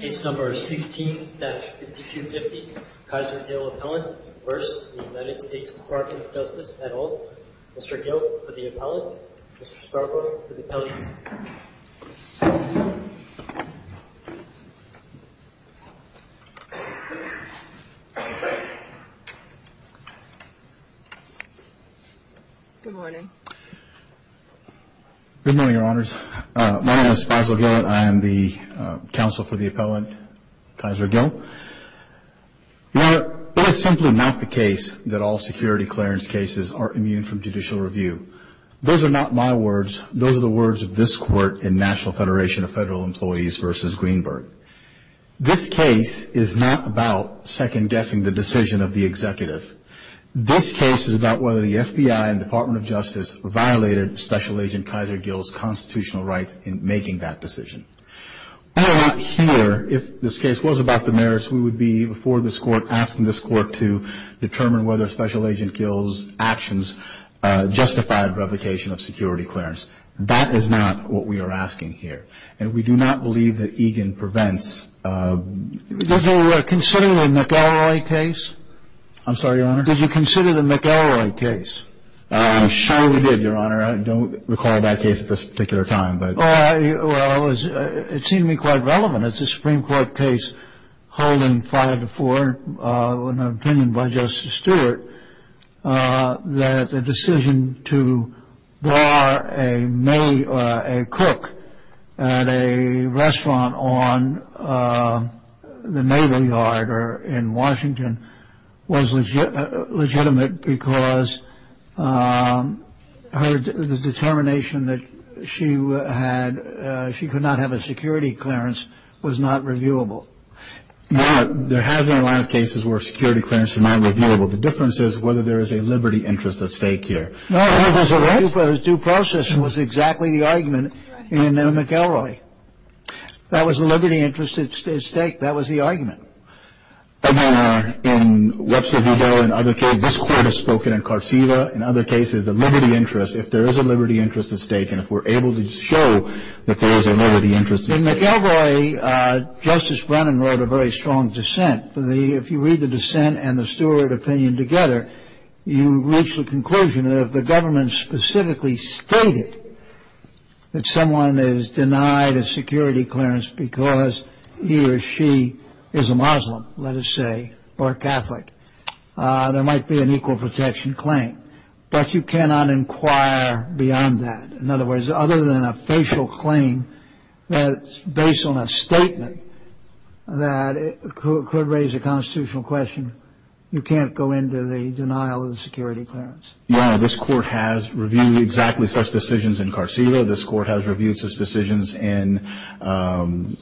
Case number 16-5250, Kaiser Hill Appellant v. United States Department of Justice, et al. Mr. Gill for the appellant, Mr. Scarborough for the appellant. Good morning. Good morning, Your Honors. My name is Spiesler Gill and I am the counsel for the appellant, Kaiser Hill. Your Honor, it is simply not the case that all security clearance cases are immune from judicial review. Those are not my words. Those are the words of this Court in National Federation of Federal Employees v. Greenberg. This case is not about second-guessing the decision of the executive. This case is about whether the FBI and Department of Justice violated Special Agent Kaiser Gill's constitutional rights in making that decision. We are not here, if this case was about the merits, we would be before this Court asking this Court to determine whether Special Agent Gill's actions justified revocation of security clearance. That is not what we are asking here. And we do not believe that EGAN prevents... Did you consider the McElroy case? I'm sorry, Your Honor? Did you consider the McElroy case? I'm sure we did, Your Honor. I don't recall that case at this particular time, but... Well, it seemed to me quite relevant. It's a Supreme Court case holding five to four, an opinion by Justice Stewart, that the decision to bar a cook at a restaurant on the Naval Yard in Washington was legitimate because the determination that she could not have a security clearance was not reviewable. Your Honor, there have been a lot of cases where security clearance is not reviewable. The difference is whether there is a liberty interest at stake here. No, the due process was exactly the argument in McElroy. That was a liberty interest at stake. That was the argument. And then in Webster Vigal and other cases, this Court has spoken in Cartsiva, in other cases the liberty interest, if there is a liberty interest at stake, and if we're able to show that there is a liberty interest at stake... In McElroy, Justice Brennan wrote a very strong dissent. If you read the dissent and the Stewart opinion together, you reach the conclusion that if the government specifically stated that someone is denied a security clearance because he or she is a Muslim, let us say, or a Catholic, there might be an equal protection claim. But you cannot inquire beyond that. In other words, other than a facial claim that's based on a statement that could raise a constitutional question, you can't go into the denial of the security clearance. Your Honor, this Court has reviewed exactly such decisions in Cartsiva. This Court has reviewed such decisions in Dovey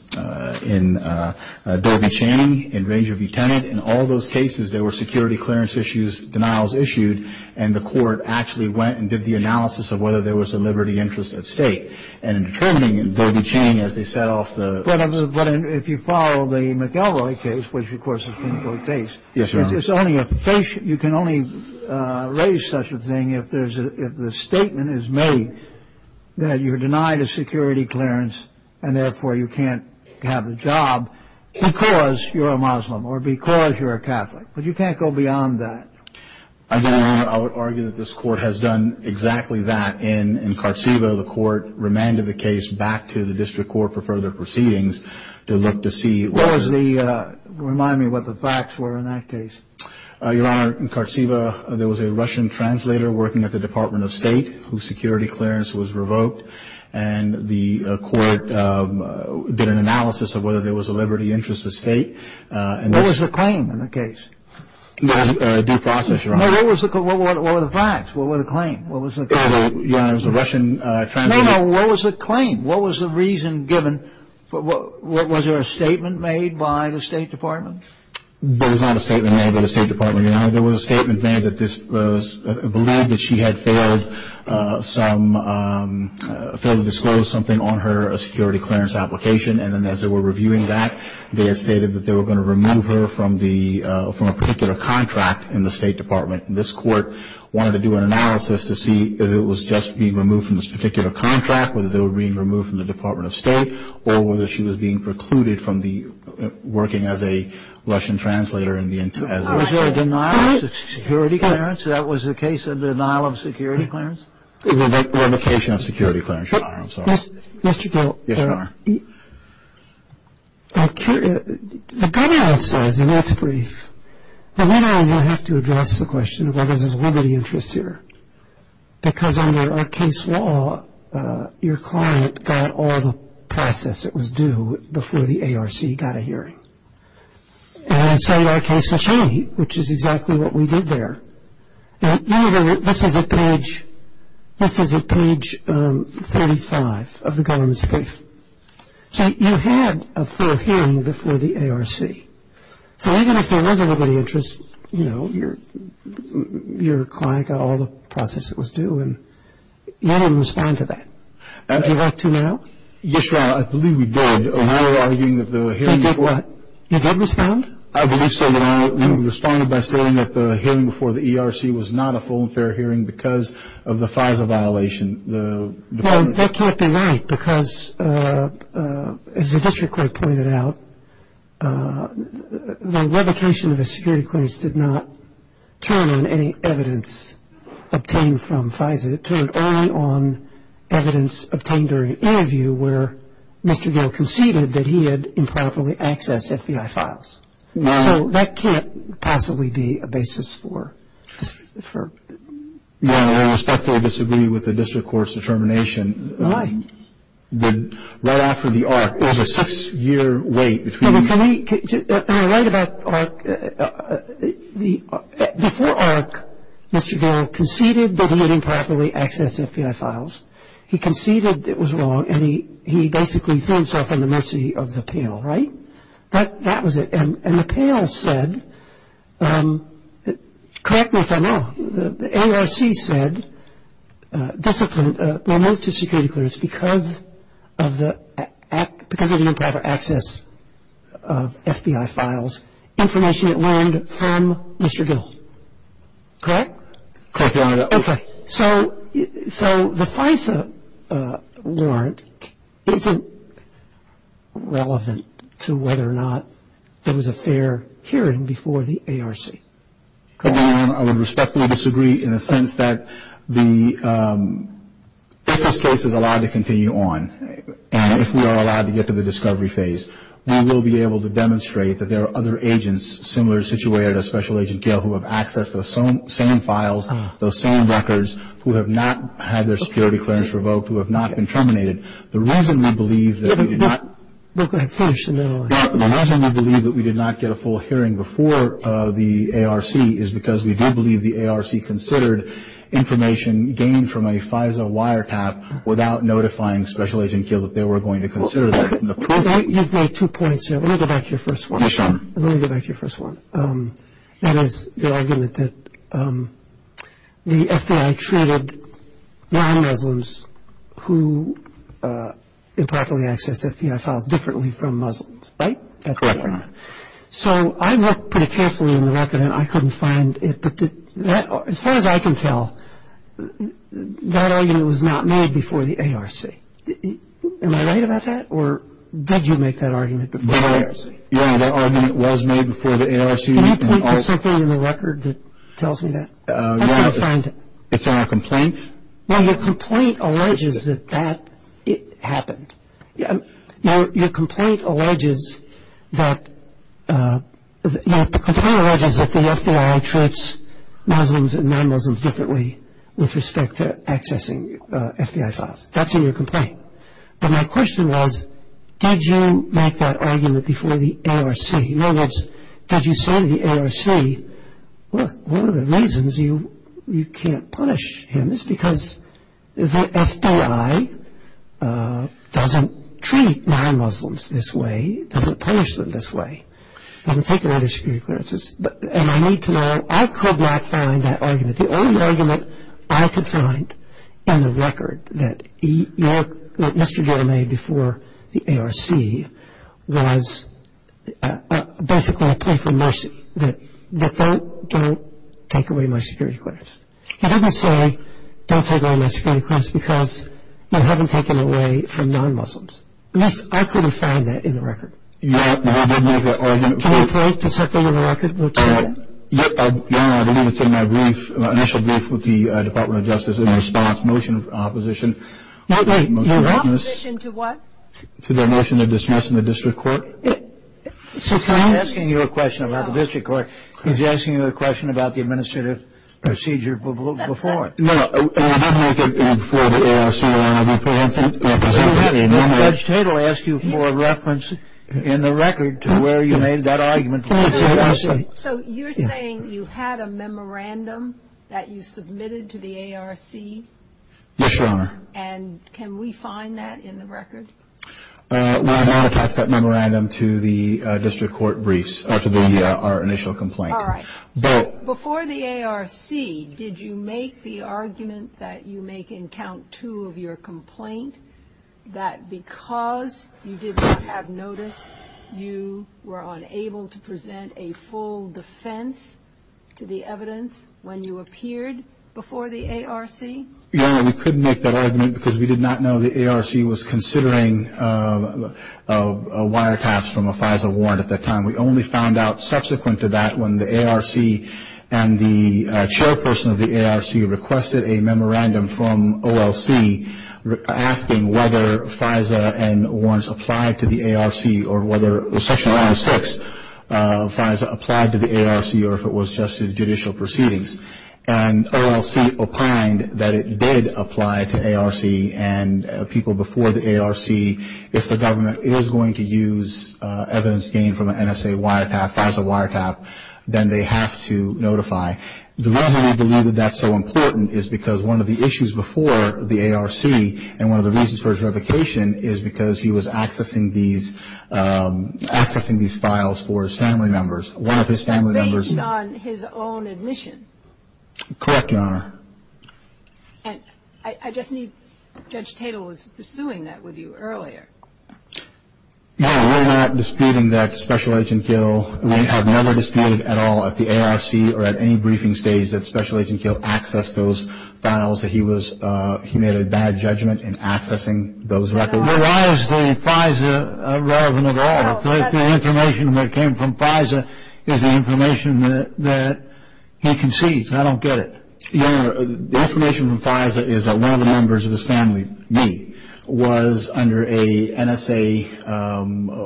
Channing, in Ranger V. Tennant. In all those cases, there were security clearance issues, denials issued, and the Court actually went and did the analysis of whether there was a liberty interest at stake and in determining in Dovey Channing as they set off the... But if you follow the McElroy case, which of course is an important case... Yes, Your Honor. You can only raise such a thing if the statement is made that you're denied a security clearance and therefore you can't have the job because you're a Muslim or because you're a Catholic. But you can't go beyond that. Again, Your Honor, I would argue that this Court has done exactly that in Cartsiva. The Court remanded the case back to the district court for further proceedings to look to see... What was the... Remind me what the facts were in that case. Your Honor, in Cartsiva, there was a Russian translator working at the Department of State whose security clearance was revoked. And the Court did an analysis of whether there was a liberty interest at stake. What was the claim in the case? A due process, Your Honor. No, what were the facts? What were the claims? Your Honor, it was a Russian translator. No, no, what was the claim? What was the reason given? Was there a statement made by the State Department? There was not a statement made by the State Department, Your Honor. There was a statement made that this was believed that she had failed to disclose something on her security clearance application. And then as they were reviewing that, they had stated that they were going to remove her from a particular contract in the State Department. This Court wanted to do an analysis to see if it was just being removed from this particular contract, whether they were being removed from the Department of State, or whether she was being precluded from working as a Russian translator as a... Was there a denial of security clearance? That was the case of denial of security clearance? Revocation of security clearance, Your Honor. I'm sorry. Mr. Gilt, there are... Yes, Your Honor. The good answer is, and that's brief, but then I'm going to have to address the question of whether there's limited interest here. Because under our case law, your client got all the process that was due before the ARC got a hearing. And so in our case, which is exactly what we did there. Now, Your Honor, this is at page 35 of the government's brief. So you had a full hearing before the ARC. So I'm going to assume there's a little bit of interest. You know, your client got all the process that was due, and you didn't respond to that. Would you like to now? Yes, Your Honor. I believe we did. When we were arguing that the hearing... They did what? You did respond? I believe so, Your Honor, when we responded by saying that the hearing before the ARC was not a full and fair hearing because of the FISA violation. Well, that can't be right because, as the district court pointed out, the revocation of the security clearance did not turn on any evidence obtained from FISA. It turned only on evidence obtained during an interview where Mr. Gale conceded that he had improperly accessed FBI files. So that can't possibly be a basis for... Your Honor, I respectfully disagree with the district court's determination. Why? Right after the ARC, there was a six-year wait between... No, but can we write about ARC? Before ARC, Mr. Gale conceded that he had improperly accessed FBI files. He conceded it was wrong, and he basically threw himself in the mercy of the panel, right? That was it. And the panel said... Correct me if I'm wrong. The ARC said, disciplined, removed the security clearance because of the improper access of FBI files, information it learned from Mr. Gale. Correct? Correct, Your Honor. Okay. So the FISA warrant isn't relevant to whether or not there was a fair hearing before the ARC. Your Honor, I would respectfully disagree in the sense that the FISA case is allowed to continue on, and if we are allowed to get to the discovery phase, we will be able to demonstrate that there are other agents similar, who have access to the same files, those same records, who have not had their security clearance revoked, who have not been terminated. The reason we believe that we did not... No, go ahead. Finish, and then I'll... The reason we believe that we did not get a full hearing before the ARC is because we do believe the ARC considered information gained from a FISA wiretap without notifying Special Agent Gale that they were going to consider that. You've made two points here. Let me go back to your first one. Yes, Your Honor. Let me go back to your first one. That is the argument that the FBI treated non-Muslims who improperly accessed FBI files differently from Muslims, right? Correct, Your Honor. So I looked pretty carefully in the record, and I couldn't find it, but as far as I can tell, that argument was not made before the ARC. Am I right about that, or did you make that argument before the ARC? Yes, that argument was made before the ARC. Can I point to something in the record that tells me that? Yes. I'm trying to find it. It's in our complaint. Well, your complaint alleges that that happened. Your complaint alleges that the FBI treats Muslims and non-Muslims differently with respect to accessing FBI files. That's in your complaint. But my question was, did you make that argument before the ARC? In other words, did you say to the ARC, well, one of the reasons you can't punish him is because the FBI doesn't treat non-Muslims this way, doesn't punish them this way, doesn't take a lot of security clearances. And I need to know, I could not find that argument. The only argument I could find in the record that Mr. Gill made before the ARC was basically a plea for mercy, that don't take away my security clearance. It doesn't say don't take away my security clearance because you haven't taken away from non-Muslims. At least I could have found that in the record. Can you point to something in the record that will tell me that? General, I believe it's in my brief, initial brief with the Department of Justice in response, motion of opposition. Opposition to what? To the motion of dismissal in the district court. I'm not asking you a question about the district court. I was asking you a question about the administrative procedure before. No, no, I did make it before the ARC. Judge Tate will ask you for a reference in the record to where you made that argument. So you're saying you had a memorandum that you submitted to the ARC? Yes, Your Honor. And can we find that in the record? We have not attached that memorandum to the district court briefs, to our initial complaint. All right. Before the ARC, did you make the argument that you make in count two of your complaint that because you did not have notice, you were unable to present a full defense to the evidence when you appeared before the ARC? Your Honor, we couldn't make that argument because we did not know the ARC was considering wiretaps from a FISA warrant at that time. We only found out subsequent to that when the ARC and the chairperson of the ARC requested a memorandum from OLC, asking whether FISA and once applied to the ARC or whether Section 106 FISA applied to the ARC or if it was just judicial proceedings. And OLC opined that it did apply to ARC and people before the ARC. If the government is going to use evidence gained from an NSA wiretap, FISA wiretap, then they have to notify. The reason we believe that that's so important is because one of the issues before the ARC and one of the reasons for his revocation is because he was accessing these files for his family members. One of his family members. Based on his own admission? Correct, Your Honor. And I just need, Judge Tatel was pursuing that with you earlier. No, we're not disputing that Special Agent Gill. We have never disputed at all at the ARC or at any briefing stage that Special Agent Gill accessed those files. He made a bad judgment in accessing those records. Why is the FISA relevant at all? The information that came from FISA is the information that he concedes. I don't get it. Your Honor, the information from FISA is that one of the members of his family, me, was under a NSA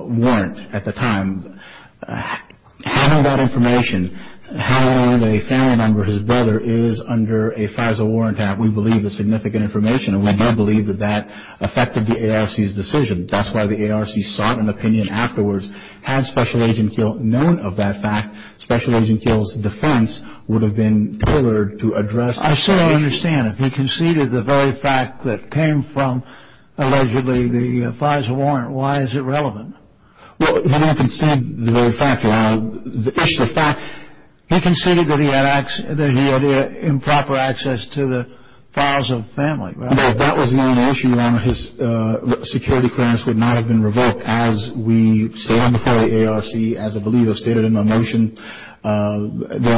warrant at the time. How did that information, how a family member, his brother, is under a FISA warrant? We believe it's significant information and we do believe that that affected the ARC's decision. That's why the ARC sought an opinion afterwards. Had Special Agent Gill known of that fact, Special Agent Gill's defense would have been tailored to address the issue. I don't understand. If he conceded the very fact that came from, allegedly, the FISA warrant, why is it relevant? Well, he didn't concede the very fact, Your Honor. The issue of fact, he conceded that he had improper access to the files of family, right? No, that was not an issue, Your Honor. His security clearance would not have been revoked as we stand before the ARC. As I believe was stated in my motion, there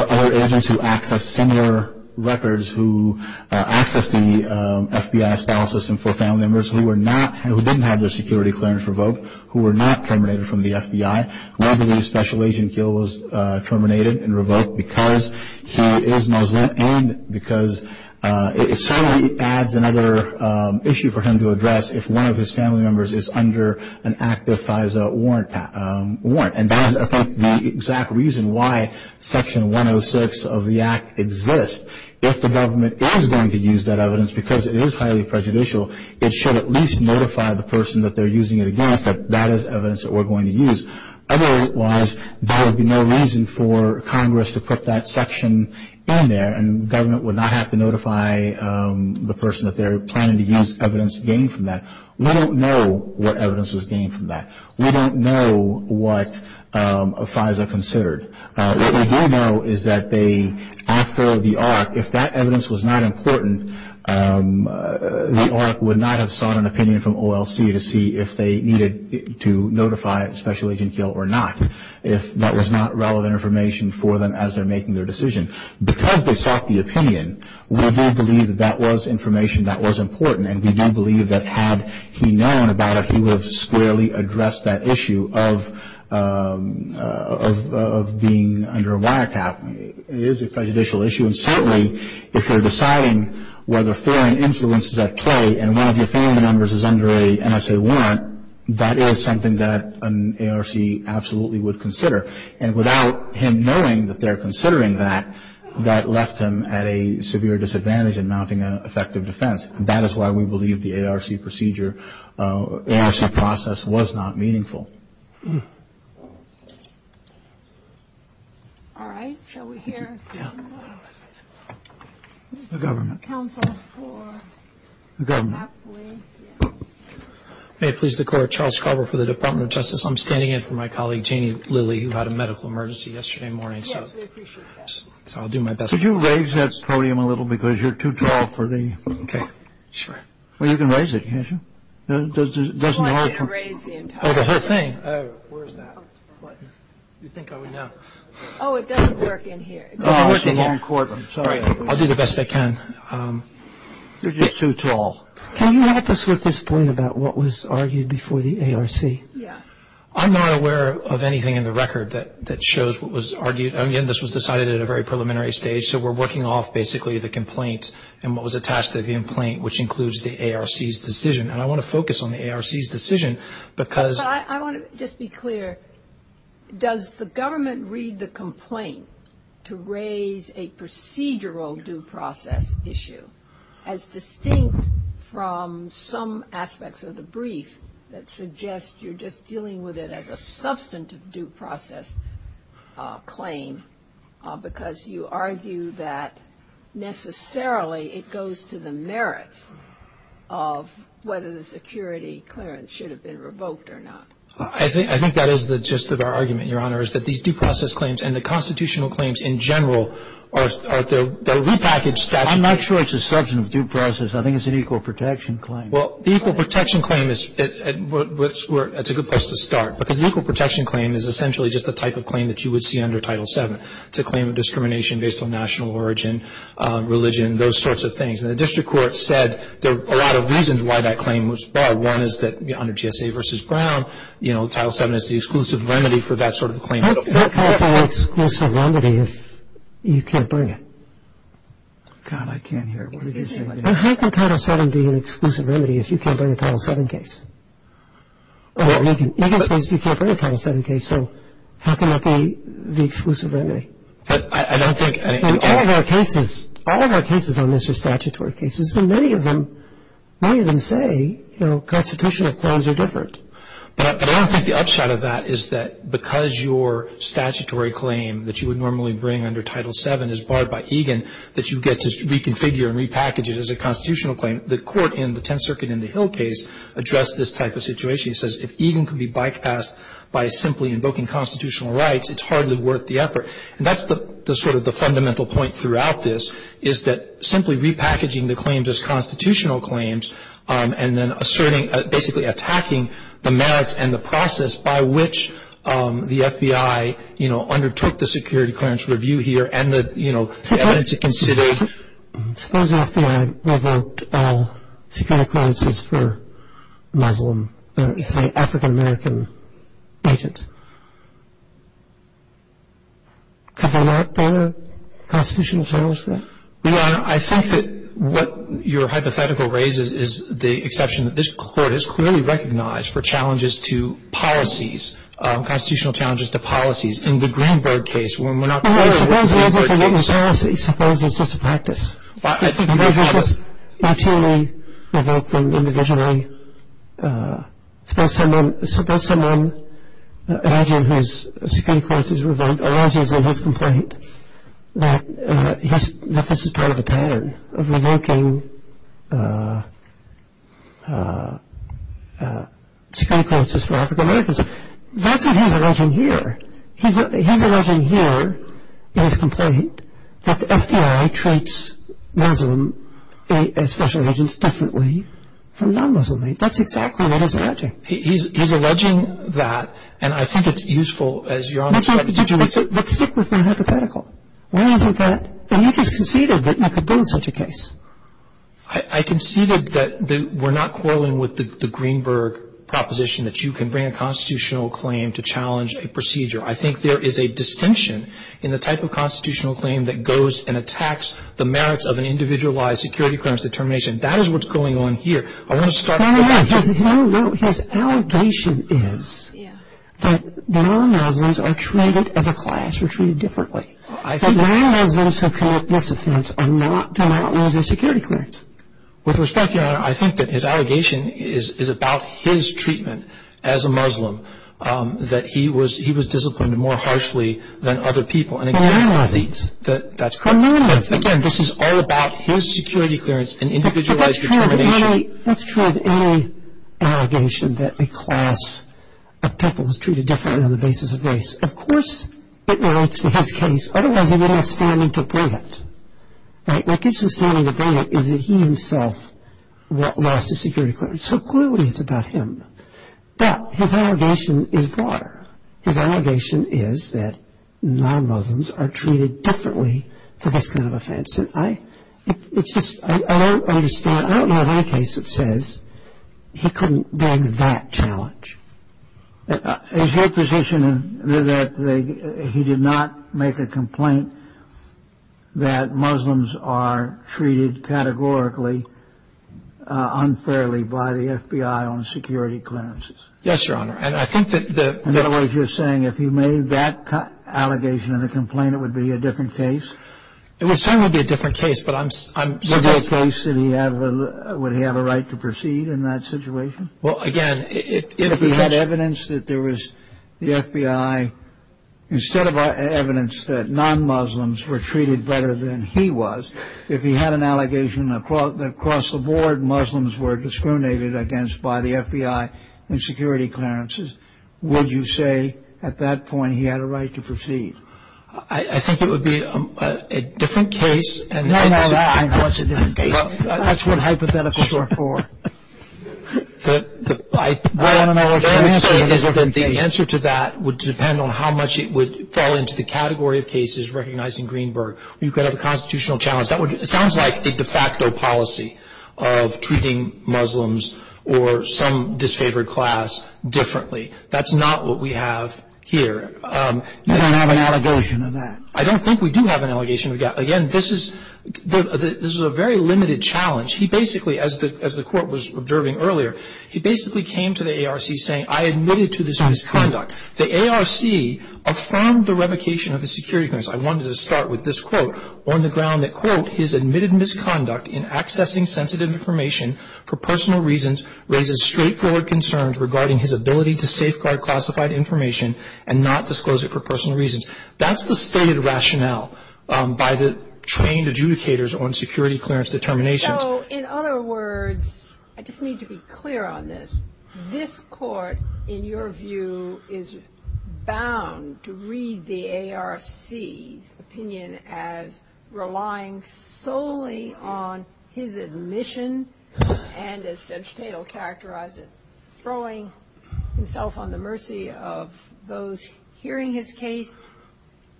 are other agents who access similar records, who access the FBI's file system for family members who were not, who didn't have their security clearance revoked, who were not terminated from the FBI. We believe Special Agent Gill was terminated and revoked because he is Muslim and because it certainly adds another issue for him to address if one of his family members is under an active FISA warrant. And that is, I think, the exact reason why Section 106 of the Act exists. If the government is going to use that evidence because it is highly prejudicial, it should at least notify the person that they're using it against that that is evidence that we're going to use. Otherwise, there would be no reason for Congress to put that section in there and government would not have to notify the person that they're planning to use evidence gained from that. We don't know what evidence was gained from that. We don't know what FISA considered. What we do know is that they, after the ARC, if that evidence was not important, the ARC would not have sought an opinion from OLC to see if they needed to notify Special Agent Gill or not, if that was not relevant information for them as they're making their decision. Because they sought the opinion, we do believe that that was information that was important And we do believe that had he known about it, he would have squarely addressed that issue of being under a wiretap. It is a prejudicial issue. And certainly, if you're deciding whether foreign influence is at play and one of your family members is under an NSA warrant, that is something that an ARC absolutely would consider. And without him knowing that they're considering that, that left him at a severe disadvantage in mounting an effective defense. That is why we believe the ARC procedure, ARC process was not meaningful. All right. Shall we hear? The government. May it please the Court. Charles Carver for the Department of Justice. I'm standing in for my colleague, Janie Lilly, who had a medical emergency yesterday morning. Yes, we appreciate that. So I'll do my best. Could you raise that podium a little? Because you're too tall for the. OK. Sure. Well, you can raise it, can't you? It doesn't work. Oh, the whole thing. Oh, where is that? What? You'd think I would know. Oh, it doesn't work in here. It doesn't work in here. Oh, it's a long cord. I'm sorry. I'll do the best I can. You're just too tall. Can you help us with this point about what was argued before the ARC? Yeah. I'm not aware of anything in the record that shows what was argued. Again, this was decided at a very preliminary stage. So we're working off basically the complaint and what was attached to the complaint, which includes the ARC's decision. And I want to focus on the ARC's decision because. I want to just be clear. Does the government read the complaint to raise a procedural due process issue as distinct from some aspects of the brief that suggest you're just dealing with it as a substantive due process claim because you argue that necessarily it goes to the merits of whether the security clearance should have been revoked or not? I think that is the gist of our argument, Your Honor, is that these due process claims and the constitutional claims in general are repackaged. I'm not sure it's a substantive due process. I think it's an equal protection claim. Well, the equal protection claim is where it's a good place to start because the equal protection claim is essentially just the type of claim that you would see under Title VII. It's a claim of discrimination based on national origin, religion, those sorts of things. And the district court said there are a lot of reasons why that claim was filed. One is that under GSA v. Brown, you know, Title VII is the exclusive remedy for that sort of claim. How can it be an exclusive remedy if you can't bring it? God, I can't hear. Excuse me. How can Title VII be an exclusive remedy if you can't bring a Title VII case? Well, Egan says you can't bring a Title VII case, so how can that be the exclusive remedy? I don't think any of that. All of our cases, all of our cases on this are statutory cases, and many of them, many of them say, you know, constitutional claims are different. But I don't think the upside of that is that because your statutory claim that you would normally bring under Title VII is barred by Egan that you get to reconfigure and repackage it as a constitutional claim. The court in the Tenth Circuit in the Hill case addressed this type of situation. It says if Egan can be bypassed by simply invoking constitutional rights, it's hardly worth the effort. And that's the sort of the fundamental point throughout this, is that simply repackaging the claims as constitutional claims and then basically attacking the merits and the process by which the FBI, you know, is using the evidence that we have here and the, you know, evidence it considers. Suppose the FBI revoked all Secretary Clarence's for Muslim, African-American agents. Could they not bring a constitutional challenge to that? Your Honor, I think that what your hypothetical raises is the exception. This Court has clearly recognized for challenges to policies, constitutional challenges to policies in the Greenberg case when we're not clear what the expert thinks. Suppose it's just a practice. Suppose it's just materially revoking individually. Suppose someone, imagine whose Security Clarence is revoked, alleges in his complaint that this is part of a pattern of revoking Secretary Clarence's for African-Americans. That's what he's alleging here. He's alleging here in his complaint that the FBI treats Muslim special agents differently from non-Muslim agents. That's exactly what he's alleging. He's alleging that, and I think it's useful, as your Honor said. But stick with my hypothetical. Why isn't that? And you just conceded that you could build such a case. I conceded that we're not quarreling with the Greenberg proposition that you can bring a constitutional claim to challenge a procedure. I think there is a distinction in the type of constitutional claim that goes and attacks the merits of an individualized Security Clarence determination. That is what's going on here. No, no, no. His allegation is that non-Muslims are treated as a class. We're treated differently. Non-Muslims who commit this offense are not denied security clearance. With respect, your Honor, I think that his allegation is about his treatment as a Muslim, that he was disciplined more harshly than other people. Non-Muslims. That's correct. Again, this is all about his security clearance and individualized determination. That's true of any allegation that a class of people is treated differently on the basis of race. Of course it relates to his case. Otherwise, he wouldn't have standing to bring it. What gives him standing to bring it is that he himself lost his security clearance. So clearly it's about him. But his allegation is broader. His allegation is that non-Muslims are treated differently for this kind of offense. I don't understand. I don't know of any case that says he couldn't bring that challenge. Is your position that he did not make a complaint that Muslims are treated categorically unfairly by the FBI on security clearances? Yes, Your Honor. In other words, you're saying if he made that allegation in the complaint, it would be a different case? It would certainly be a different case. But I'm suggesting – Would he have a right to proceed in that situation? Well, again – If he had evidence that there was the FBI, instead of evidence that non-Muslims were treated better than he was, if he had an allegation across the board Muslims were discriminated against by the FBI in security clearances, would you say at that point he had a right to proceed? I think it would be a different case. No, no. That's what hypotheticals are for. The answer to that would depend on how much it would fall into the category of cases recognizing Greenberg. You could have a constitutional challenge. That sounds like a de facto policy of treating Muslims or some disfavored class differently. That's not what we have here. You don't have an allegation in that? I don't think we do have an allegation. Again, this is a very limited challenge. He basically, as the Court was observing earlier, he basically came to the ARC saying, I admitted to this misconduct. The ARC affirmed the revocation of his security clearance. I wanted to start with this quote on the ground that, quote, his admitted misconduct in accessing sensitive information for personal reasons raises straightforward concerns regarding his ability to safeguard classified information and not disclose it for personal reasons. That's the stated rationale by the trained adjudicators on security clearance determinations. So, in other words, I just need to be clear on this. This Court, in your view, is bound to read the ARC's opinion as relying solely on his admission and as Judge Tatel characterized it, throwing himself on the mercy of those hearing his case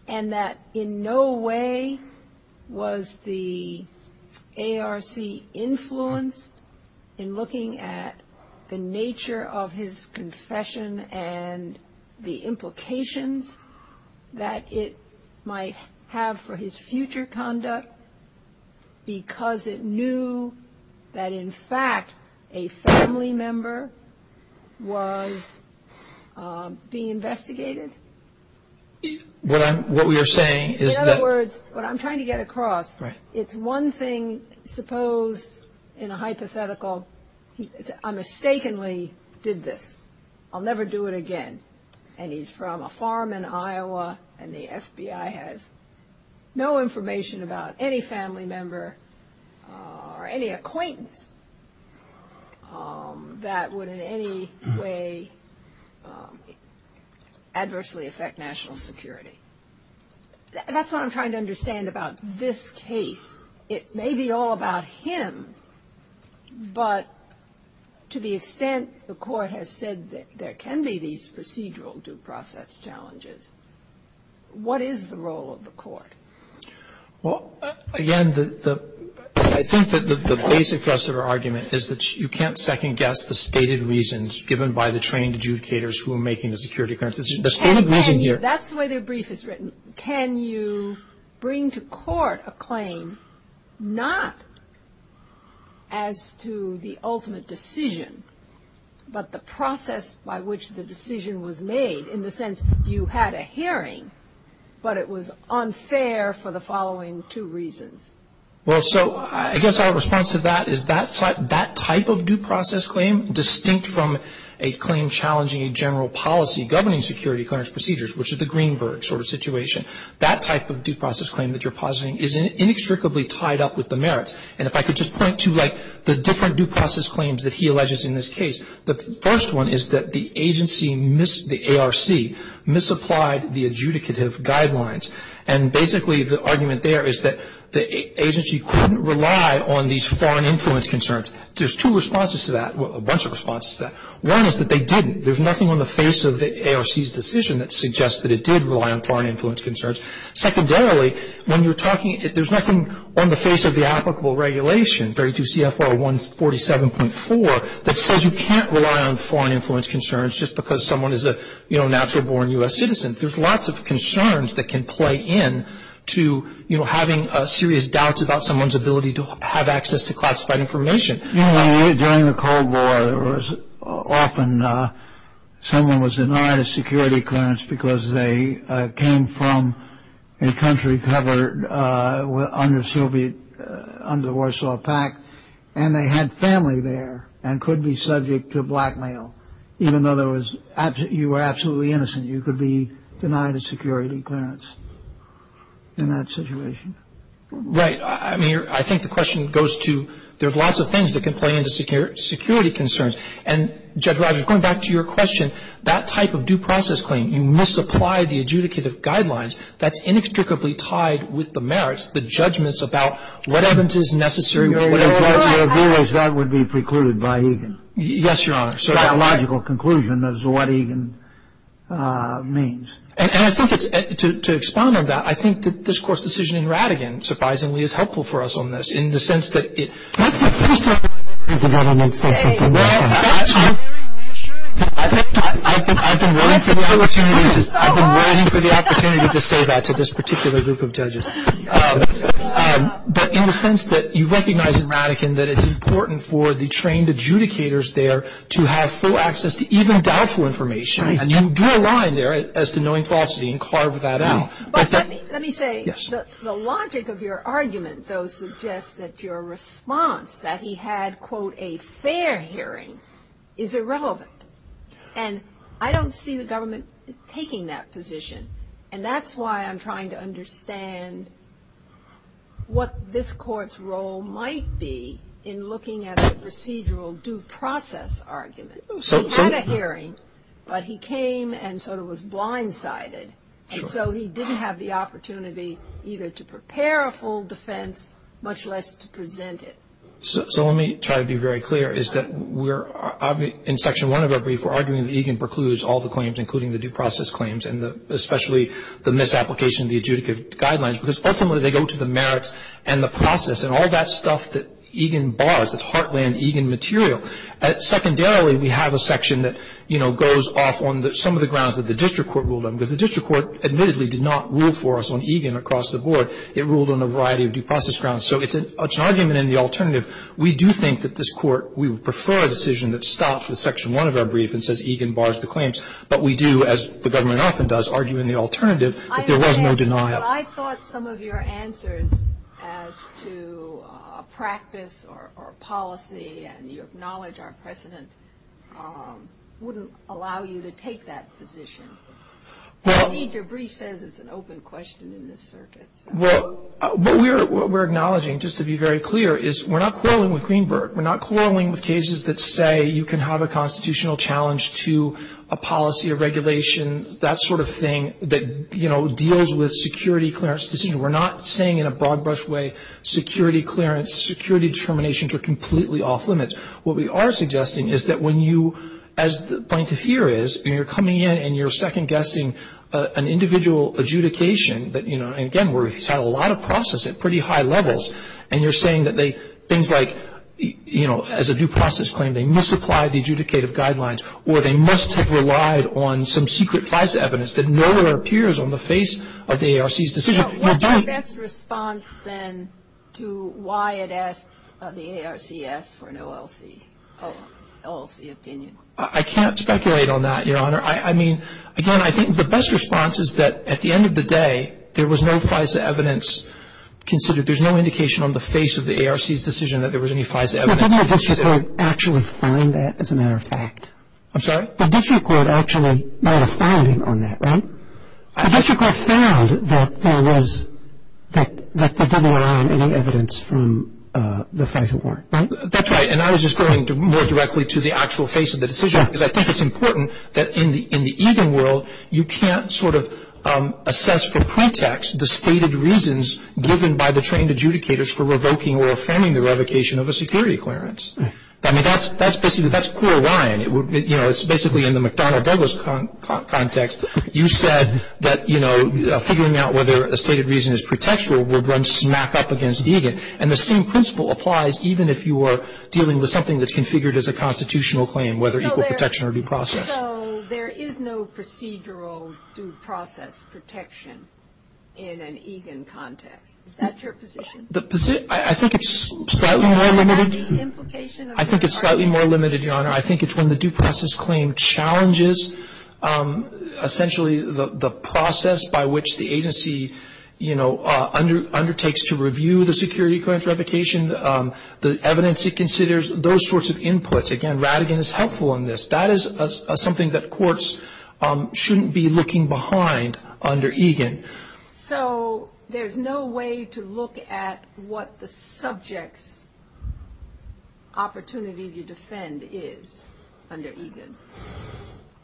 and that in no way was the ARC influenced in looking at the nature of his confession and the implications that it might have for his future conduct because it knew that, in fact, a family member was being investigated? In other words, what I'm trying to get across, it's one thing supposed in a hypothetical. I mistakenly did this. I'll never do it again. And he's from a farm in Iowa and the FBI has no information about any family member or any acquaintance that would in any way adversely affect national security. That's what I'm trying to understand about this case. It may be all about him, but to the extent the Court has said that there can be these procedural due process challenges, what is the role of the Court? Well, again, I think that the basic rest of our argument is that you can't second-guess the stated reasons given by the trained adjudicators who are making the security clearance. The stated reason here — That's the way the brief is written. Can you bring to court a claim not as to the ultimate decision, but the process by which the decision was made in the sense you had a hearing, but it was unfair for the following two reasons? Well, so I guess our response to that is that type of due process claim, distinct from a claim challenging a general policy governing security clearance procedures, which is the Greenberg sort of situation, that type of due process claim that you're positing is inextricably tied up with the merits. And if I could just point to, like, the different due process claims that he alleges in this case, the first one is that the agency missed the ARC, misapplied the adjudicative guidelines. And basically the argument there is that the agency couldn't rely on these foreign influence concerns. There's two responses to that, a bunch of responses to that. One is that they didn't. There's nothing on the face of the ARC's decision that suggests that it did rely on foreign influence concerns. Secondarily, when you're talking, there's nothing on the face of the applicable regulation, 32 CFR 147.4, that says you can't rely on foreign influence concerns just because someone is a, you know, natural-born U.S. citizen. There's lots of concerns that can play into, you know, having serious doubts about someone's ability to have access to classified information. During the Cold War, there was often someone was denied a security clearance because they came from a country covered under Soviet, under the Warsaw Pact. And they had family there and could be subject to blackmail, even though there was, you were absolutely innocent. You could be denied a security clearance in that situation. Right. I mean, I think the question goes to, there's lots of things that can play into security concerns. And, Judge Rogers, going back to your question, that type of due process claim, you misapply the adjudicative guidelines, that's inextricably tied with the merits, the judgments about what evidence is necessary. Your view is that would be precluded by Egan. Yes, Your Honor. So that logical conclusion is what Egan means. And I think it's, to expound on that, I think that this Court's decision in Rattigan, surprisingly, is helpful for us on this, in the sense that it. Let's finish talking over here. I've been waiting for the opportunity to say that to this particular group of judges. But in the sense that you recognize in Rattigan that it's important for the trained adjudicators there to have full access to even doubtful information. And you draw a line there as to knowing falsity and carve that out. But let me say. Yes. The logic of your argument, though, suggests that your response, that he had, quote, a fair hearing, is irrelevant. And I don't see the government taking that position. And that's why I'm trying to understand what this Court's role might be in looking at a procedural due process argument. He had a hearing, but he came and sort of was blindsided. And so he didn't have the opportunity either to prepare a full defense, much less to present it. So let me try to be very clear, is that we're, in Section 1 of our brief, we're arguing that Egan precludes all the claims, including the due process claims, and especially the misapplication of the adjudicative guidelines, because ultimately they go to the merits and the process, and all that stuff that Egan bars, that's heartland Egan material. Secondarily, we have a section that, you know, goes off on some of the grounds that the district court ruled on, because the district court admittedly did not rule for us on Egan across the board. It ruled on a variety of due process grounds. So it's an argument in the alternative. We do think that this Court, we would prefer a decision that stops with Section 1 of our brief and says Egan bars the claims. But we do, as the government often does, argue in the alternative that there was no denial. But I thought some of your answers as to practice or policy, and you acknowledge our precedent, wouldn't allow you to take that position. Indeed, your brief says it's an open question in this circuit. Well, what we're acknowledging, just to be very clear, is we're not quarreling with Greenberg. We're not quarreling with cases that say you can have a constitutional challenge to a policy, a regulation, that sort of thing that, you know, deals with security clearance decisions. We're not saying in a broad-brush way security clearance, security determinations are completely off limits. What we are suggesting is that when you, as the point of here is, when you're coming in and you're second-guessing an individual adjudication that, you know, and again, where he's had a lot of process at pretty high levels, and you're saying that things like, you know, as a due process claim, they misapply the adjudicative guidelines, or they must have relied on some secret FISA evidence that nowhere appears on the face of the ARC's decision. You're doing that. So what's your best response, then, to why it asked, the ARC asked for an OLC opinion? I can't speculate on that, Your Honor. I mean, again, I think the best response is that at the end of the day, there was no FISA evidence considered. There's no indication on the face of the ARC's decision that there was any FISA evidence. But didn't the district court actually find that, as a matter of fact? I'm sorry? The district court actually had a finding on that, right? The district court found that there was, that there didn't rely on any evidence from the FISA board, right? That's right, and I was just going more directly to the actual face of the decision, because I think it's important that in the even world, you can't sort of assess for pretext the stated reasons given by the trained adjudicators for revoking or affirming the revocation of a security clearance. I mean, that's basically, that's core line. You know, it's basically in the McDonnell-Douglas context. You said that, you know, figuring out whether a stated reason is pretextual would run smack up against EGAN. And the same principle applies even if you are dealing with something that's configured as a constitutional claim, whether equal protection or due process. So there is no procedural due process protection in an EGAN context. Is that your position? I think it's slightly more limited. I think it's slightly more limited, Your Honor. I think it's when the due process claim challenges essentially the process by which the agency, you know, undertakes to review the security clearance revocation, the evidence it considers, those sorts of inputs. Again, Rattigan is helpful in this. That is something that courts shouldn't be looking behind under EGAN. So there's no way to look at what the subject's opportunity to defend is under EGAN?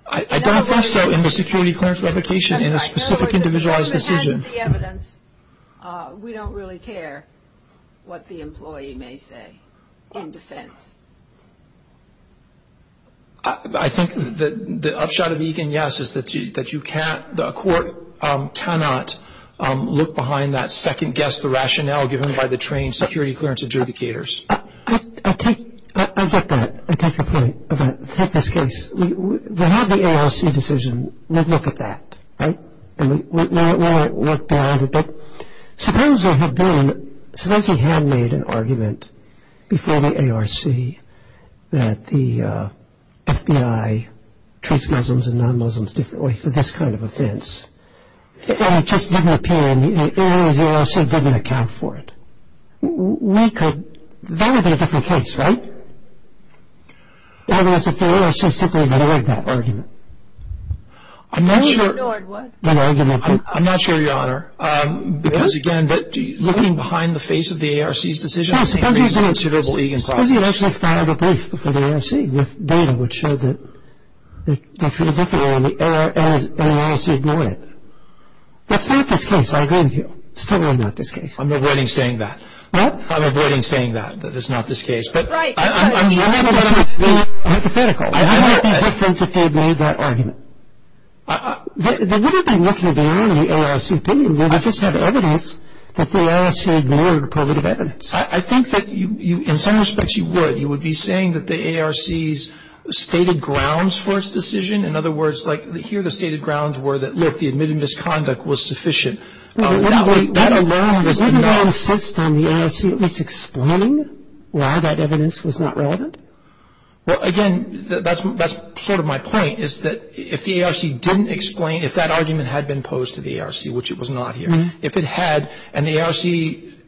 I don't think so in the security clearance revocation in a specific individualized decision. As far as the evidence, we don't really care what the employee may say in defense. I think the upshot of EGAN, yes, is that you can't, the court cannot look behind that second guess, the rationale given by the trained security clearance adjudicators. I'll take that. I'll take your point. I'll take this case. We have the ARC decision. We'll look at that. Right? And we'll work back at it. Suppose there had been, suppose we had made an argument before the ARC that the FBI treats Muslims and non-Muslims differently for this kind of offense, and it just didn't appear in the ARC, they also didn't account for it. We could, that would be a different case, right? I mean, if the ARC simply ignored that argument. Ignored what? That argument. I'm not sure, Your Honor, because, again, looking behind the face of the ARC's decision is a reasonable EGAN clause. Suppose you had actually filed a brief before the ARC with data which showed that they're treated differently and the ARC ignored it. That's not this case. I agree with you. It's totally not this case. I'm avoiding saying that. What? I'm avoiding saying that, that it's not this case. Right. I'm hypothetical. I'm hypothetical. I don't think that they made that argument. They wouldn't have been looking beyond the ARC opinion. They would have just had evidence that the ARC ignored prerogative evidence. I think that you, in some respects, you would. You would be saying that the ARC's stated grounds for its decision, in other words, like here the stated grounds were that, look, the admitted misconduct was sufficient. That alone is enough. Wasn't that insist on the ARC at least explaining why that evidence was not relevant? Well, again, that's sort of my point, is that if the ARC didn't explain, if that argument had been posed to the ARC, which it was not here, if it had and the ARC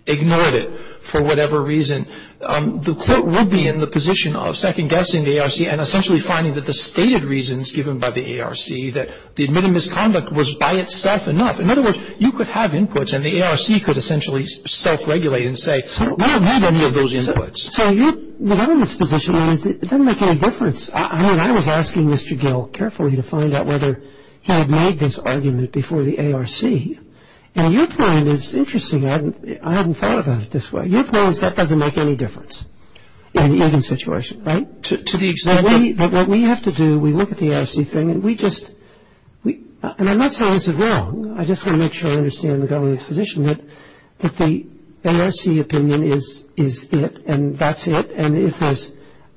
ignored it for whatever reason, the Court would be in the position of second-guessing the ARC and essentially finding that the stated reasons given by the ARC, that the admitted misconduct was by itself enough. In other words, you could have inputs and the ARC could essentially self-regulate and say, we don't need any of those inputs. So the government's position is it doesn't make any difference. I was asking Mr. Gill carefully to find out whether he had made this argument before the ARC, and your point is interesting. I hadn't thought about it this way. Your point is that doesn't make any difference in the evidence situation, right? To be exact. What we have to do, we look at the ARC thing and we just, and I'm not saying it's wrong. I just want to make sure I understand the government's position that the ARC opinion is it and that's it, and if there's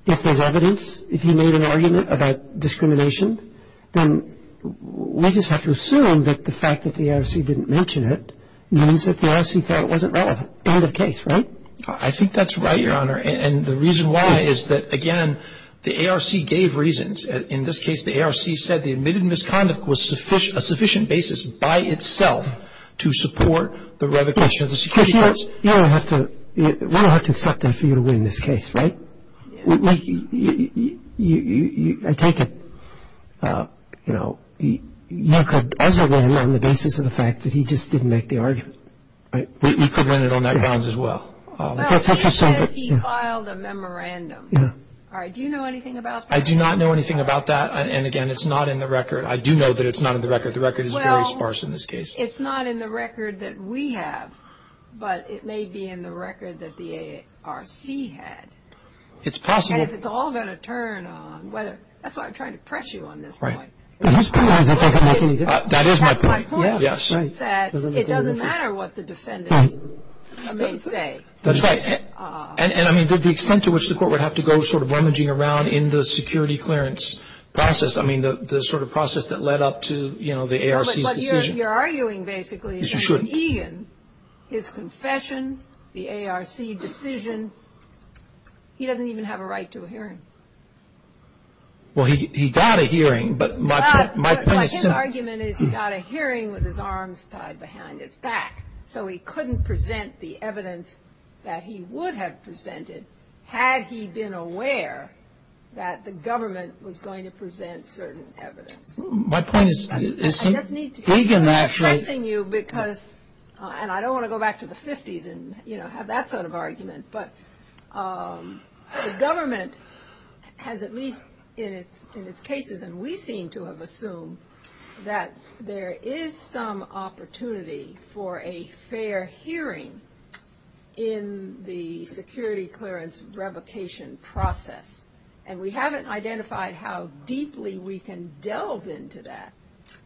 evidence, if you made an argument about discrimination, then we just have to assume that the fact that the ARC didn't mention it means that the ARC thought it wasn't relevant. End of case, right? I think that's right, Your Honor, and the reason why is that, again, the ARC gave reasons. In this case, the ARC said the admitted misconduct was a sufficient basis by itself to support the revocation of the security guards. You don't have to, we don't have to accept that for you to win this case, right? Like, I take it, you know, you could as a winner on the basis of the fact that he just didn't make the argument, right? You could win it on that grounds as well. But he said he filed a memorandum. Yeah. All right, do you know anything about that? I do not know anything about that, and, again, it's not in the record. I do know that it's not in the record. The record is very sparse in this case. Well, it's not in the record that we have, but it may be in the record that the ARC had. It's possible. And if it's all going to turn on whether, that's why I'm trying to press you on this point. Right. That is my point, yes. That it doesn't matter what the defendant may say. That's right. And, I mean, the extent to which the court would have to go sort of rummaging around in the security clearance process, I mean, the sort of process that led up to, you know, the ARC's decision. But you're arguing basically that Egan, his confession, the ARC decision, he doesn't even have a right to a hearing. Well, he got a hearing, but my point is simple. But his argument is he got a hearing with his arms tied behind his back, so he couldn't present the evidence that he would have presented, had he been aware that the government was going to present certain evidence. My point is. I just need to feel like I'm pressing you because, and I don't want to go back to the 50s and, you know, have that sort of argument, but the government has at least in its cases, and we seem to have assumed that there is some opportunity for a fair hearing in the security clearance revocation process. And we haven't identified how deeply we can delve into that.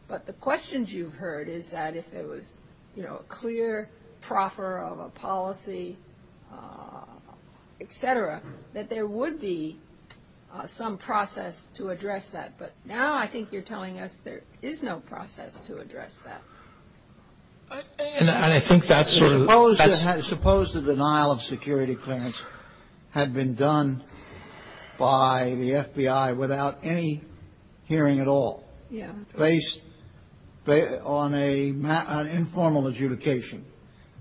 But the questions you've heard is that if it was, you know, a clear proffer of a policy, et cetera, that there would be some process to address that. But now I think you're telling us there is no process to address that. And I think that's sort of. Suppose the denial of security clearance had been done by the FBI without any hearing at all. Yeah. Based on an informal adjudication.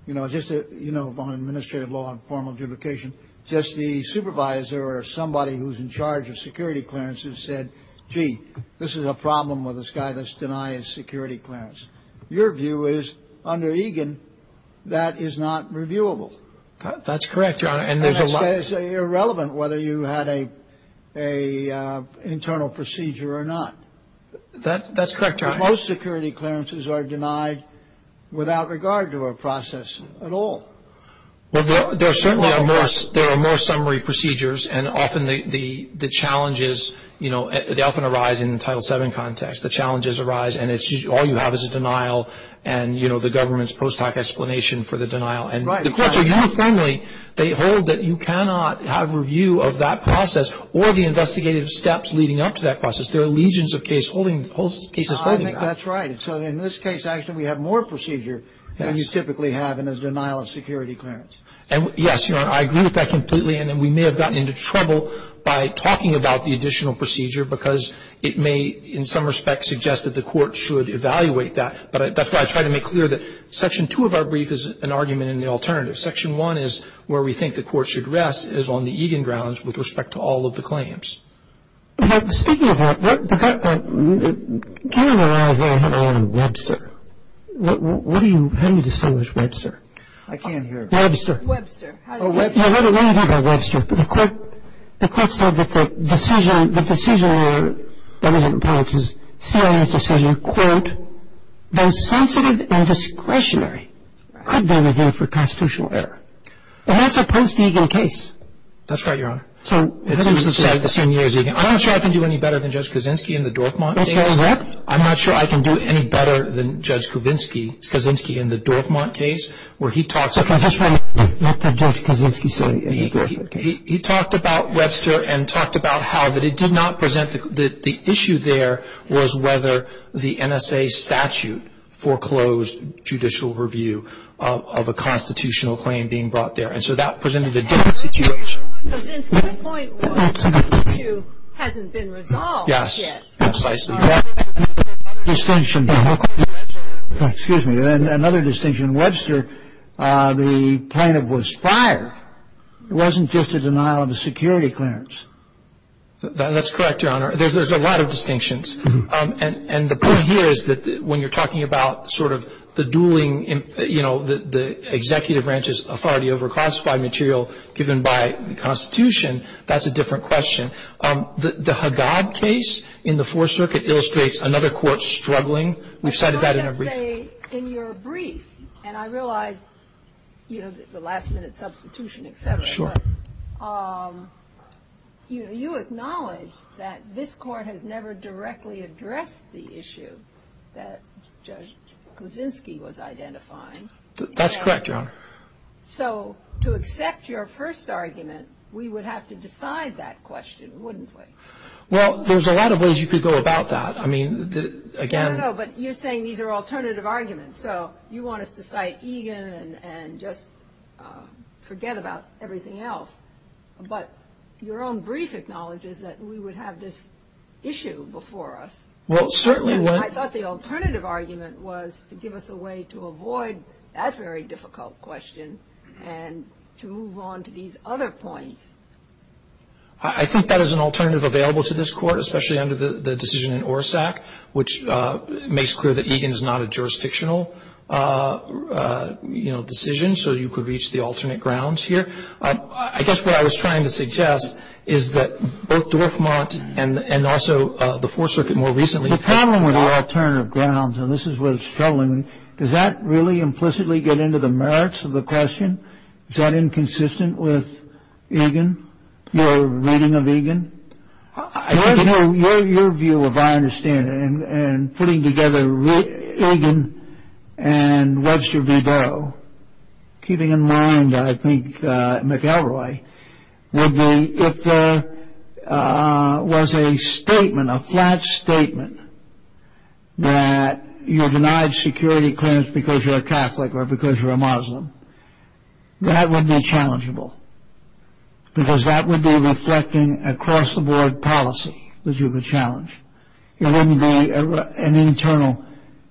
You know, just, you know, on administrative law and formal adjudication, just the supervisor or somebody who's in charge of security clearances said, gee, this is a problem with this guy that's denying security clearance. Your view is under Egan that is not reviewable. That's correct, Your Honor. And there's a lot. It's irrelevant whether you had an internal procedure or not. That's correct, Your Honor. Most security clearances are denied without regard to a process at all. Well, there are certainly more summary procedures. And often the challenges, you know, they often arise in the Title VII context. The challenges arise and all you have is a denial and, you know, the government's post hoc explanation for the denial. And the courts are uniformly. They hold that you cannot have review of that process or the investigative steps leading up to that process. There are legions of cases holding that. I think that's right. So in this case, actually, we have more procedure than you typically have in a denial of security clearance. And, yes, Your Honor, I agree with that completely. And we may have gotten into trouble by talking about the additional procedure because it may, in some respect, suggest that the court should evaluate that. But that's why I try to make clear that Section 2 of our brief is an argument in the alternative. Section 1 is where we think the court should rest is on the Egan grounds with respect to all of the claims. But speaking of that, the court – Ken and I have had a lot of Webster. What do you – how do you distinguish Webster? I can't hear. Webster. Webster. Oh, Webster. Yeah, let me talk about Webster. The court said that the decision – the decision, I apologize, CIA's decision, quote, both sensitive and discretionary could be reviewed for constitutional error. And that's a post-Egan case. That's right, Your Honor. It's the same year as Egan. I'm not sure I can do any better than Judge Kuczynski in the Dorfman case. I'm not sure I can do any better than Judge Kuczynski in the Dorfman case where he talks about – Let Judge Kuczynski say – He talked about Webster and talked about how that it did not present – the issue there was whether the NSA statute foreclosed judicial review of a constitutional claim being brought there. And so that presented a different situation. Because in 2.1, the statute hasn't been resolved yet. Yes. That's right. Another distinction. Excuse me. Another distinction. Webster, the plaintiff was fired. It wasn't just a denial of a security clearance. That's correct, Your Honor. There's a lot of distinctions. And the point here is that when you're talking about sort of the dueling, you know, the executive branch's authority over classified material given by the Constitution, that's a different question. The Haggad case in the Fourth Circuit illustrates another court struggling. We've cited that in our brief. In your brief, and I realize, you know, the last-minute substitution, et cetera. Sure. But, you know, you acknowledge that this Court has never directly addressed the issue that Judge Kuczynski was identifying. That's correct, Your Honor. So to accept your first argument, we would have to decide that question, wouldn't we? Well, there's a lot of ways you could go about that. I mean, again. I don't know. But you're saying these are alternative arguments. So you want us to cite Egan and just forget about everything else. But your own brief acknowledges that we would have this issue before us. Well, certainly. I thought the alternative argument was to give us a way to avoid that very difficult question and to move on to these other points. I think that is an alternative available to this Court, especially under the decision in ORSAC, which makes clear that Egan is not a jurisdictional, you know, decision, so you could reach the alternate grounds here. I guess what I was trying to suggest is that both Dorfmant and also the Fourth Circuit more recently. The problem with the alternative grounds, and this is what's troubling me, is that really implicitly get into the merits of the question? Is that inconsistent with Egan? Your reading of Egan? Your view, if I understand it, and putting together Egan and Webster V. Keeping in mind, I think, McElroy, if there was a statement, a flat statement, that you're denied security clearance because you're a Catholic or because you're a Muslim, that would be challengeable because that would be reflecting across the board policy that you could challenge. It wouldn't be an internal,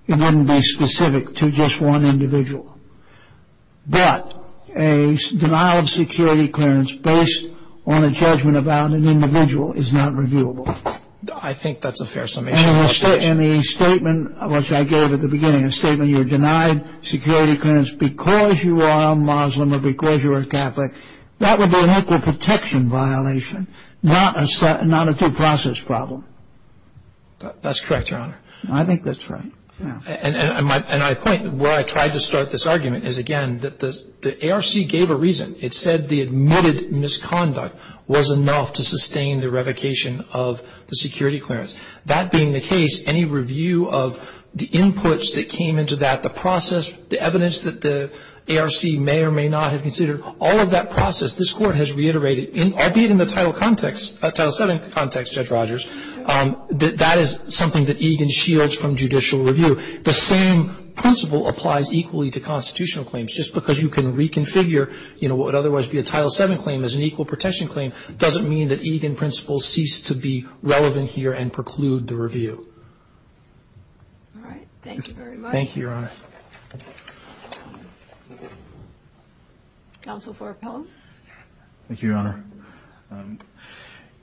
it wouldn't be specific to just one individual. But a denial of security clearance based on a judgment about an individual is not reviewable. I think that's a fair summation. And the statement, which I gave at the beginning, a statement, you're denied security clearance because you are a Muslim or because you are a Catholic, that would be an equal protection violation, not a due process problem. That's correct, Your Honor. I think that's right. And my point, where I tried to start this argument is, again, that the ARC gave a reason. It said the admitted misconduct was enough to sustain the revocation of the security clearance. That being the case, any review of the inputs that came into that, the process, the evidence that the ARC may or may not have considered, all of that process, this Court has reiterated, albeit in the Title VII context, Judge Rogers, that that is something that Egan shields from judicial review. The same principle applies equally to constitutional claims. Just because you can reconfigure what would otherwise be a Title VII claim as an equal protection claim doesn't mean that Egan principles cease to be relevant here and preclude the review. All right. Thank you very much. Thank you, Your Honor. Counsel for Appellant. Thank you, Your Honor.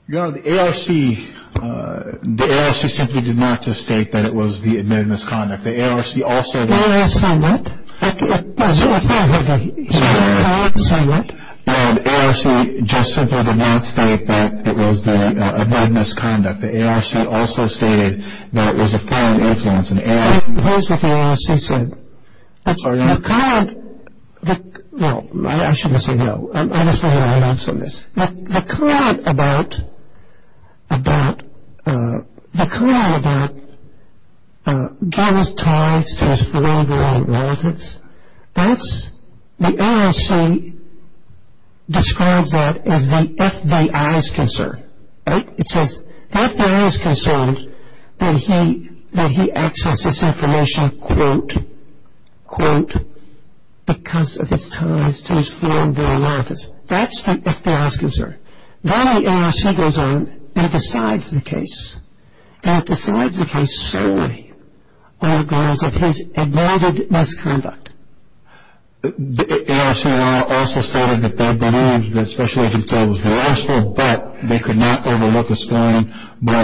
Your Honor, the ARC simply did not state that it was the admitted misconduct. The ARC also stated that it was the admitted misconduct. The ARC also stated that it was a foreign influence. I oppose what the ARC said. Your Honor. No, I shouldn't say no. I'm just making an announcement on this. The comment about Gannon's ties to his foreign-born relatives, the ARC describes that as the FBI's concern. Right? It says the FBI is concerned that he accessed this information, quote, quote, because of his ties to his foreign-born relatives. That's the FBI's concern. Then the ARC goes on and decides the case. And it decides the case solely on the grounds of his admitted misconduct. The ARC also stated that they believed that Special Agent Bell was the last one, but they could not overlook his foreign-born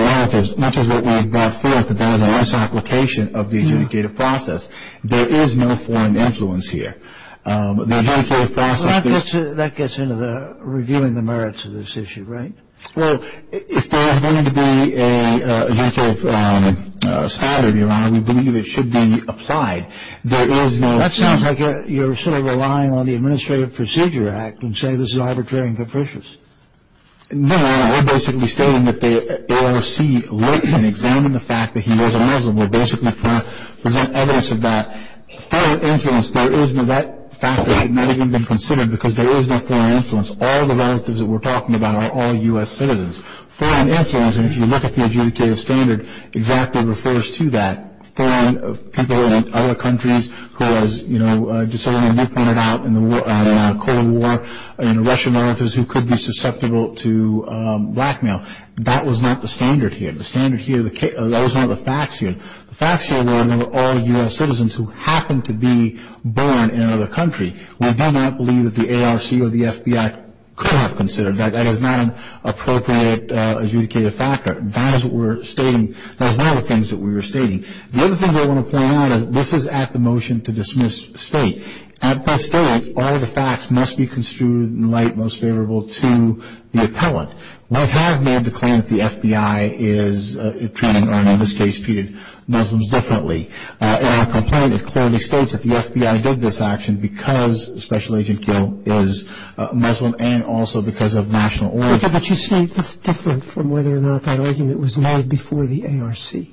relatives, much as what we have brought forth about his application of the adjudicative process. There is no foreign influence here. The adjudicative process that's been ---- That gets into the reviewing the merits of this issue, right? Well, if there is going to be an adjudicative standard, Your Honor, we believe it should be applied. There is no ---- That sounds like you're sort of relying on the Administrative Procedure Act and say this is arbitrary and capricious. No, Your Honor. We're basically stating that the ARC looked and examined the fact that he was a Muslim. We're basically trying to present evidence of that. Foreign influence, there is no ---- That fact has never even been considered because there is no foreign influence. All the relatives that we're talking about are all U.S. citizens. Foreign influence, and if you look at the adjudicative standard, exactly refers to that. Foreign people in other countries who was, you know, just sort of like you pointed out in the Cold War, you know, Russian militants who could be susceptible to blackmail. That was not the standard here. The standard here, that was not the facts here. The facts here were all U.S. citizens who happened to be born in another country. We do not believe that the ARC or the FBI could have considered that. That is not an appropriate adjudicative factor. That is what we're stating. That was one of the things that we were stating. The other thing that I want to point out is this is at the motion to dismiss state. At best state, all of the facts must be construed in light most favorable to the appellant. We have made the claim that the FBI is treating, or in this case, treated Muslims differently. In our complaint, it clearly states that the FBI did this action because Special Agent Kiel is Muslim and also because of national origin. But you say it's different from whether or not that argument was made before the ARC.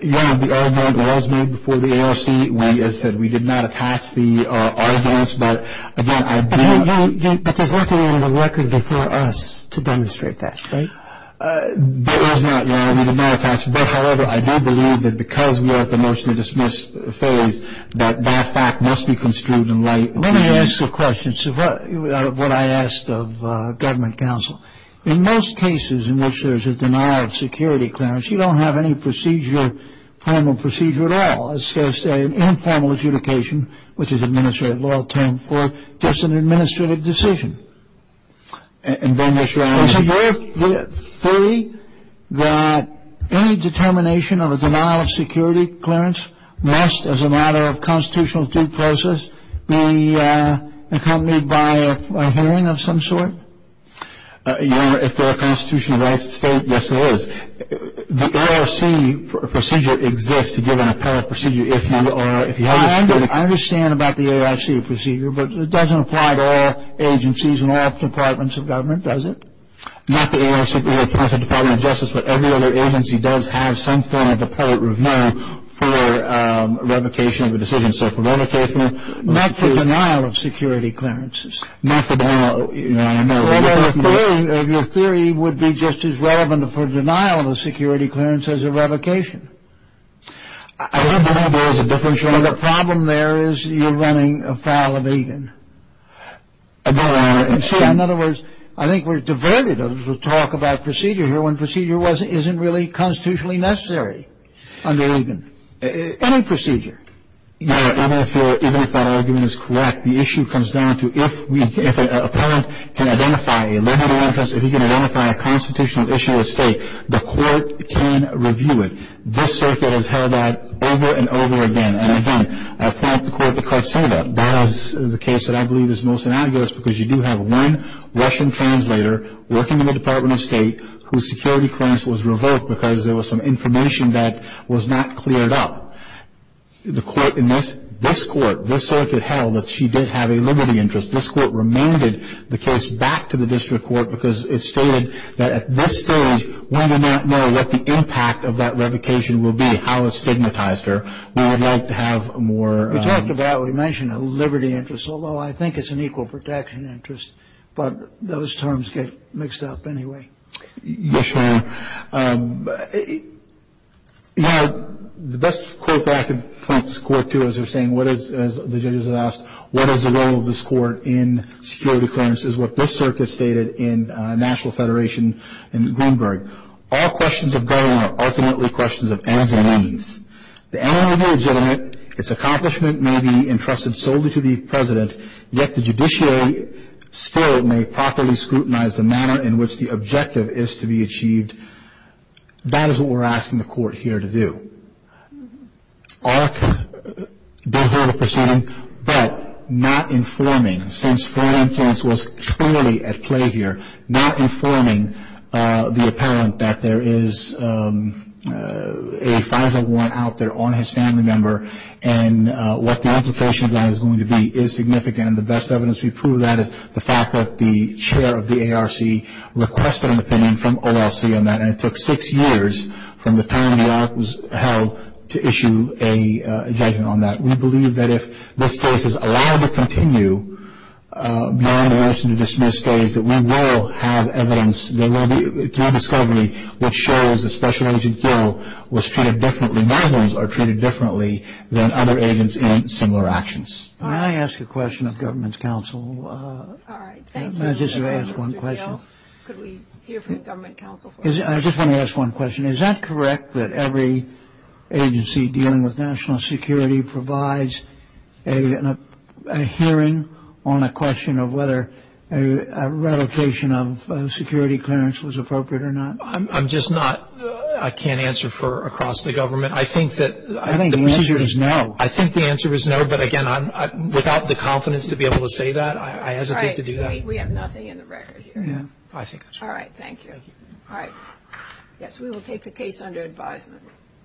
Yeah, the argument was made before the ARC. As I said, we did not attach the arguments. But again, I do not. But there's nothing in the record before us to demonstrate that, right? There is not, Your Honor. We did not attach. But, however, I do believe that because we are at the motion to dismiss phase, that that fact must be construed in light. Let me ask a question of what I asked of government counsel. In most cases in which there is a denial of security clearance, you don't have any procedure, formal procedure at all. It's just an informal adjudication, which is an administrative law term, for just an administrative decision. And then, Mr. Arnett. It's a fair theory that any determination of a denial of security clearance must, as a matter of constitutional due process, be accompanied by a hearing of some sort. Your Honor, if there are constitutional rights at stake, yes, there is. The ARC procedure exists, given appellate procedure, if you are or if you have. I understand about the ARC procedure, but it doesn't apply to all agencies and all departments of government, does it? Not the ARC or the Department of Justice, but every other agency does have some form of appellate review for revocation of a decision. So for revocation. Not for denial of security clearances. Not for denial. Your Honor, no. Your theory would be just as relevant for denial of security clearance as a revocation. I do believe there is a differential. The problem there is you're running afoul of Egan. I do, Your Honor. And so, in other words, I think we're diverted to talk about procedure here when procedure isn't really constitutionally necessary under Egan. Any procedure. Your Honor, even if that argument is correct, the issue comes down to if an appellant can identify a constitutional issue at stake, the court can review it. This circuit has held that over and over again. And, again, appellate court, the court said that. As the case that I believe is most innocuous because you do have one Russian translator working in the Department of State whose security clearance was revoked because there was some information that was not cleared up. The court in this, this court, this circuit held that she did have a liberty interest. This court remanded the case back to the district court because it stated that at this stage we do not know what the impact of that revocation will be, how it stigmatized her. We would like to have more. We talked about it. We mentioned a liberty interest, although I think it's an equal protection interest. But those terms get mixed up anyway. Yes, Your Honor. You know, the best quote that I can point this court to is they're saying what is, as the judges have asked, what is the role of this court in security clearance is what this circuit stated in National Federation in Greenberg. All questions of government are ultimately questions of ends and means. The MOU is legitimate. Its accomplishment may be entrusted solely to the president, yet the judiciary still may properly scrutinize the manner in which the objective is to be achieved. That is what we're asking the court here to do. ARC did hold a proceeding, but not informing, since foreign influence was clearly at play here, not informing the apparent that there is a FISA warrant out there on his family member and what the implication of that is going to be is significant. And the best evidence to prove that is the fact that the chair of the ARC requested an opinion from OLC on that, and it took six years from the time the ARC was held to issue a judgment on that. We believe that if this case is allowed to continue beyond the listen-to-dismiss phase, that we will have evidence through discovery that shows that Special Agent Gill was treated differently. My ones are treated differently than other agents in similar actions. Can I ask a question of government counsel? All right. Thank you. I just want to ask one question. Mr. Gill, could we hear from government counsel for a moment? I just want to ask one question. Is that correct that every agency dealing with national security provides a hearing on a question of whether a revocation of security clearance was appropriate or not? I'm just not, I can't answer for across the government. I think that the procedure is no. I think the answer is no. But, again, without the confidence to be able to say that, I hesitate to do that. All right. We have nothing in the record here. I think that's right. All right. Thank you. All right. Yes, we will take the case under advisement.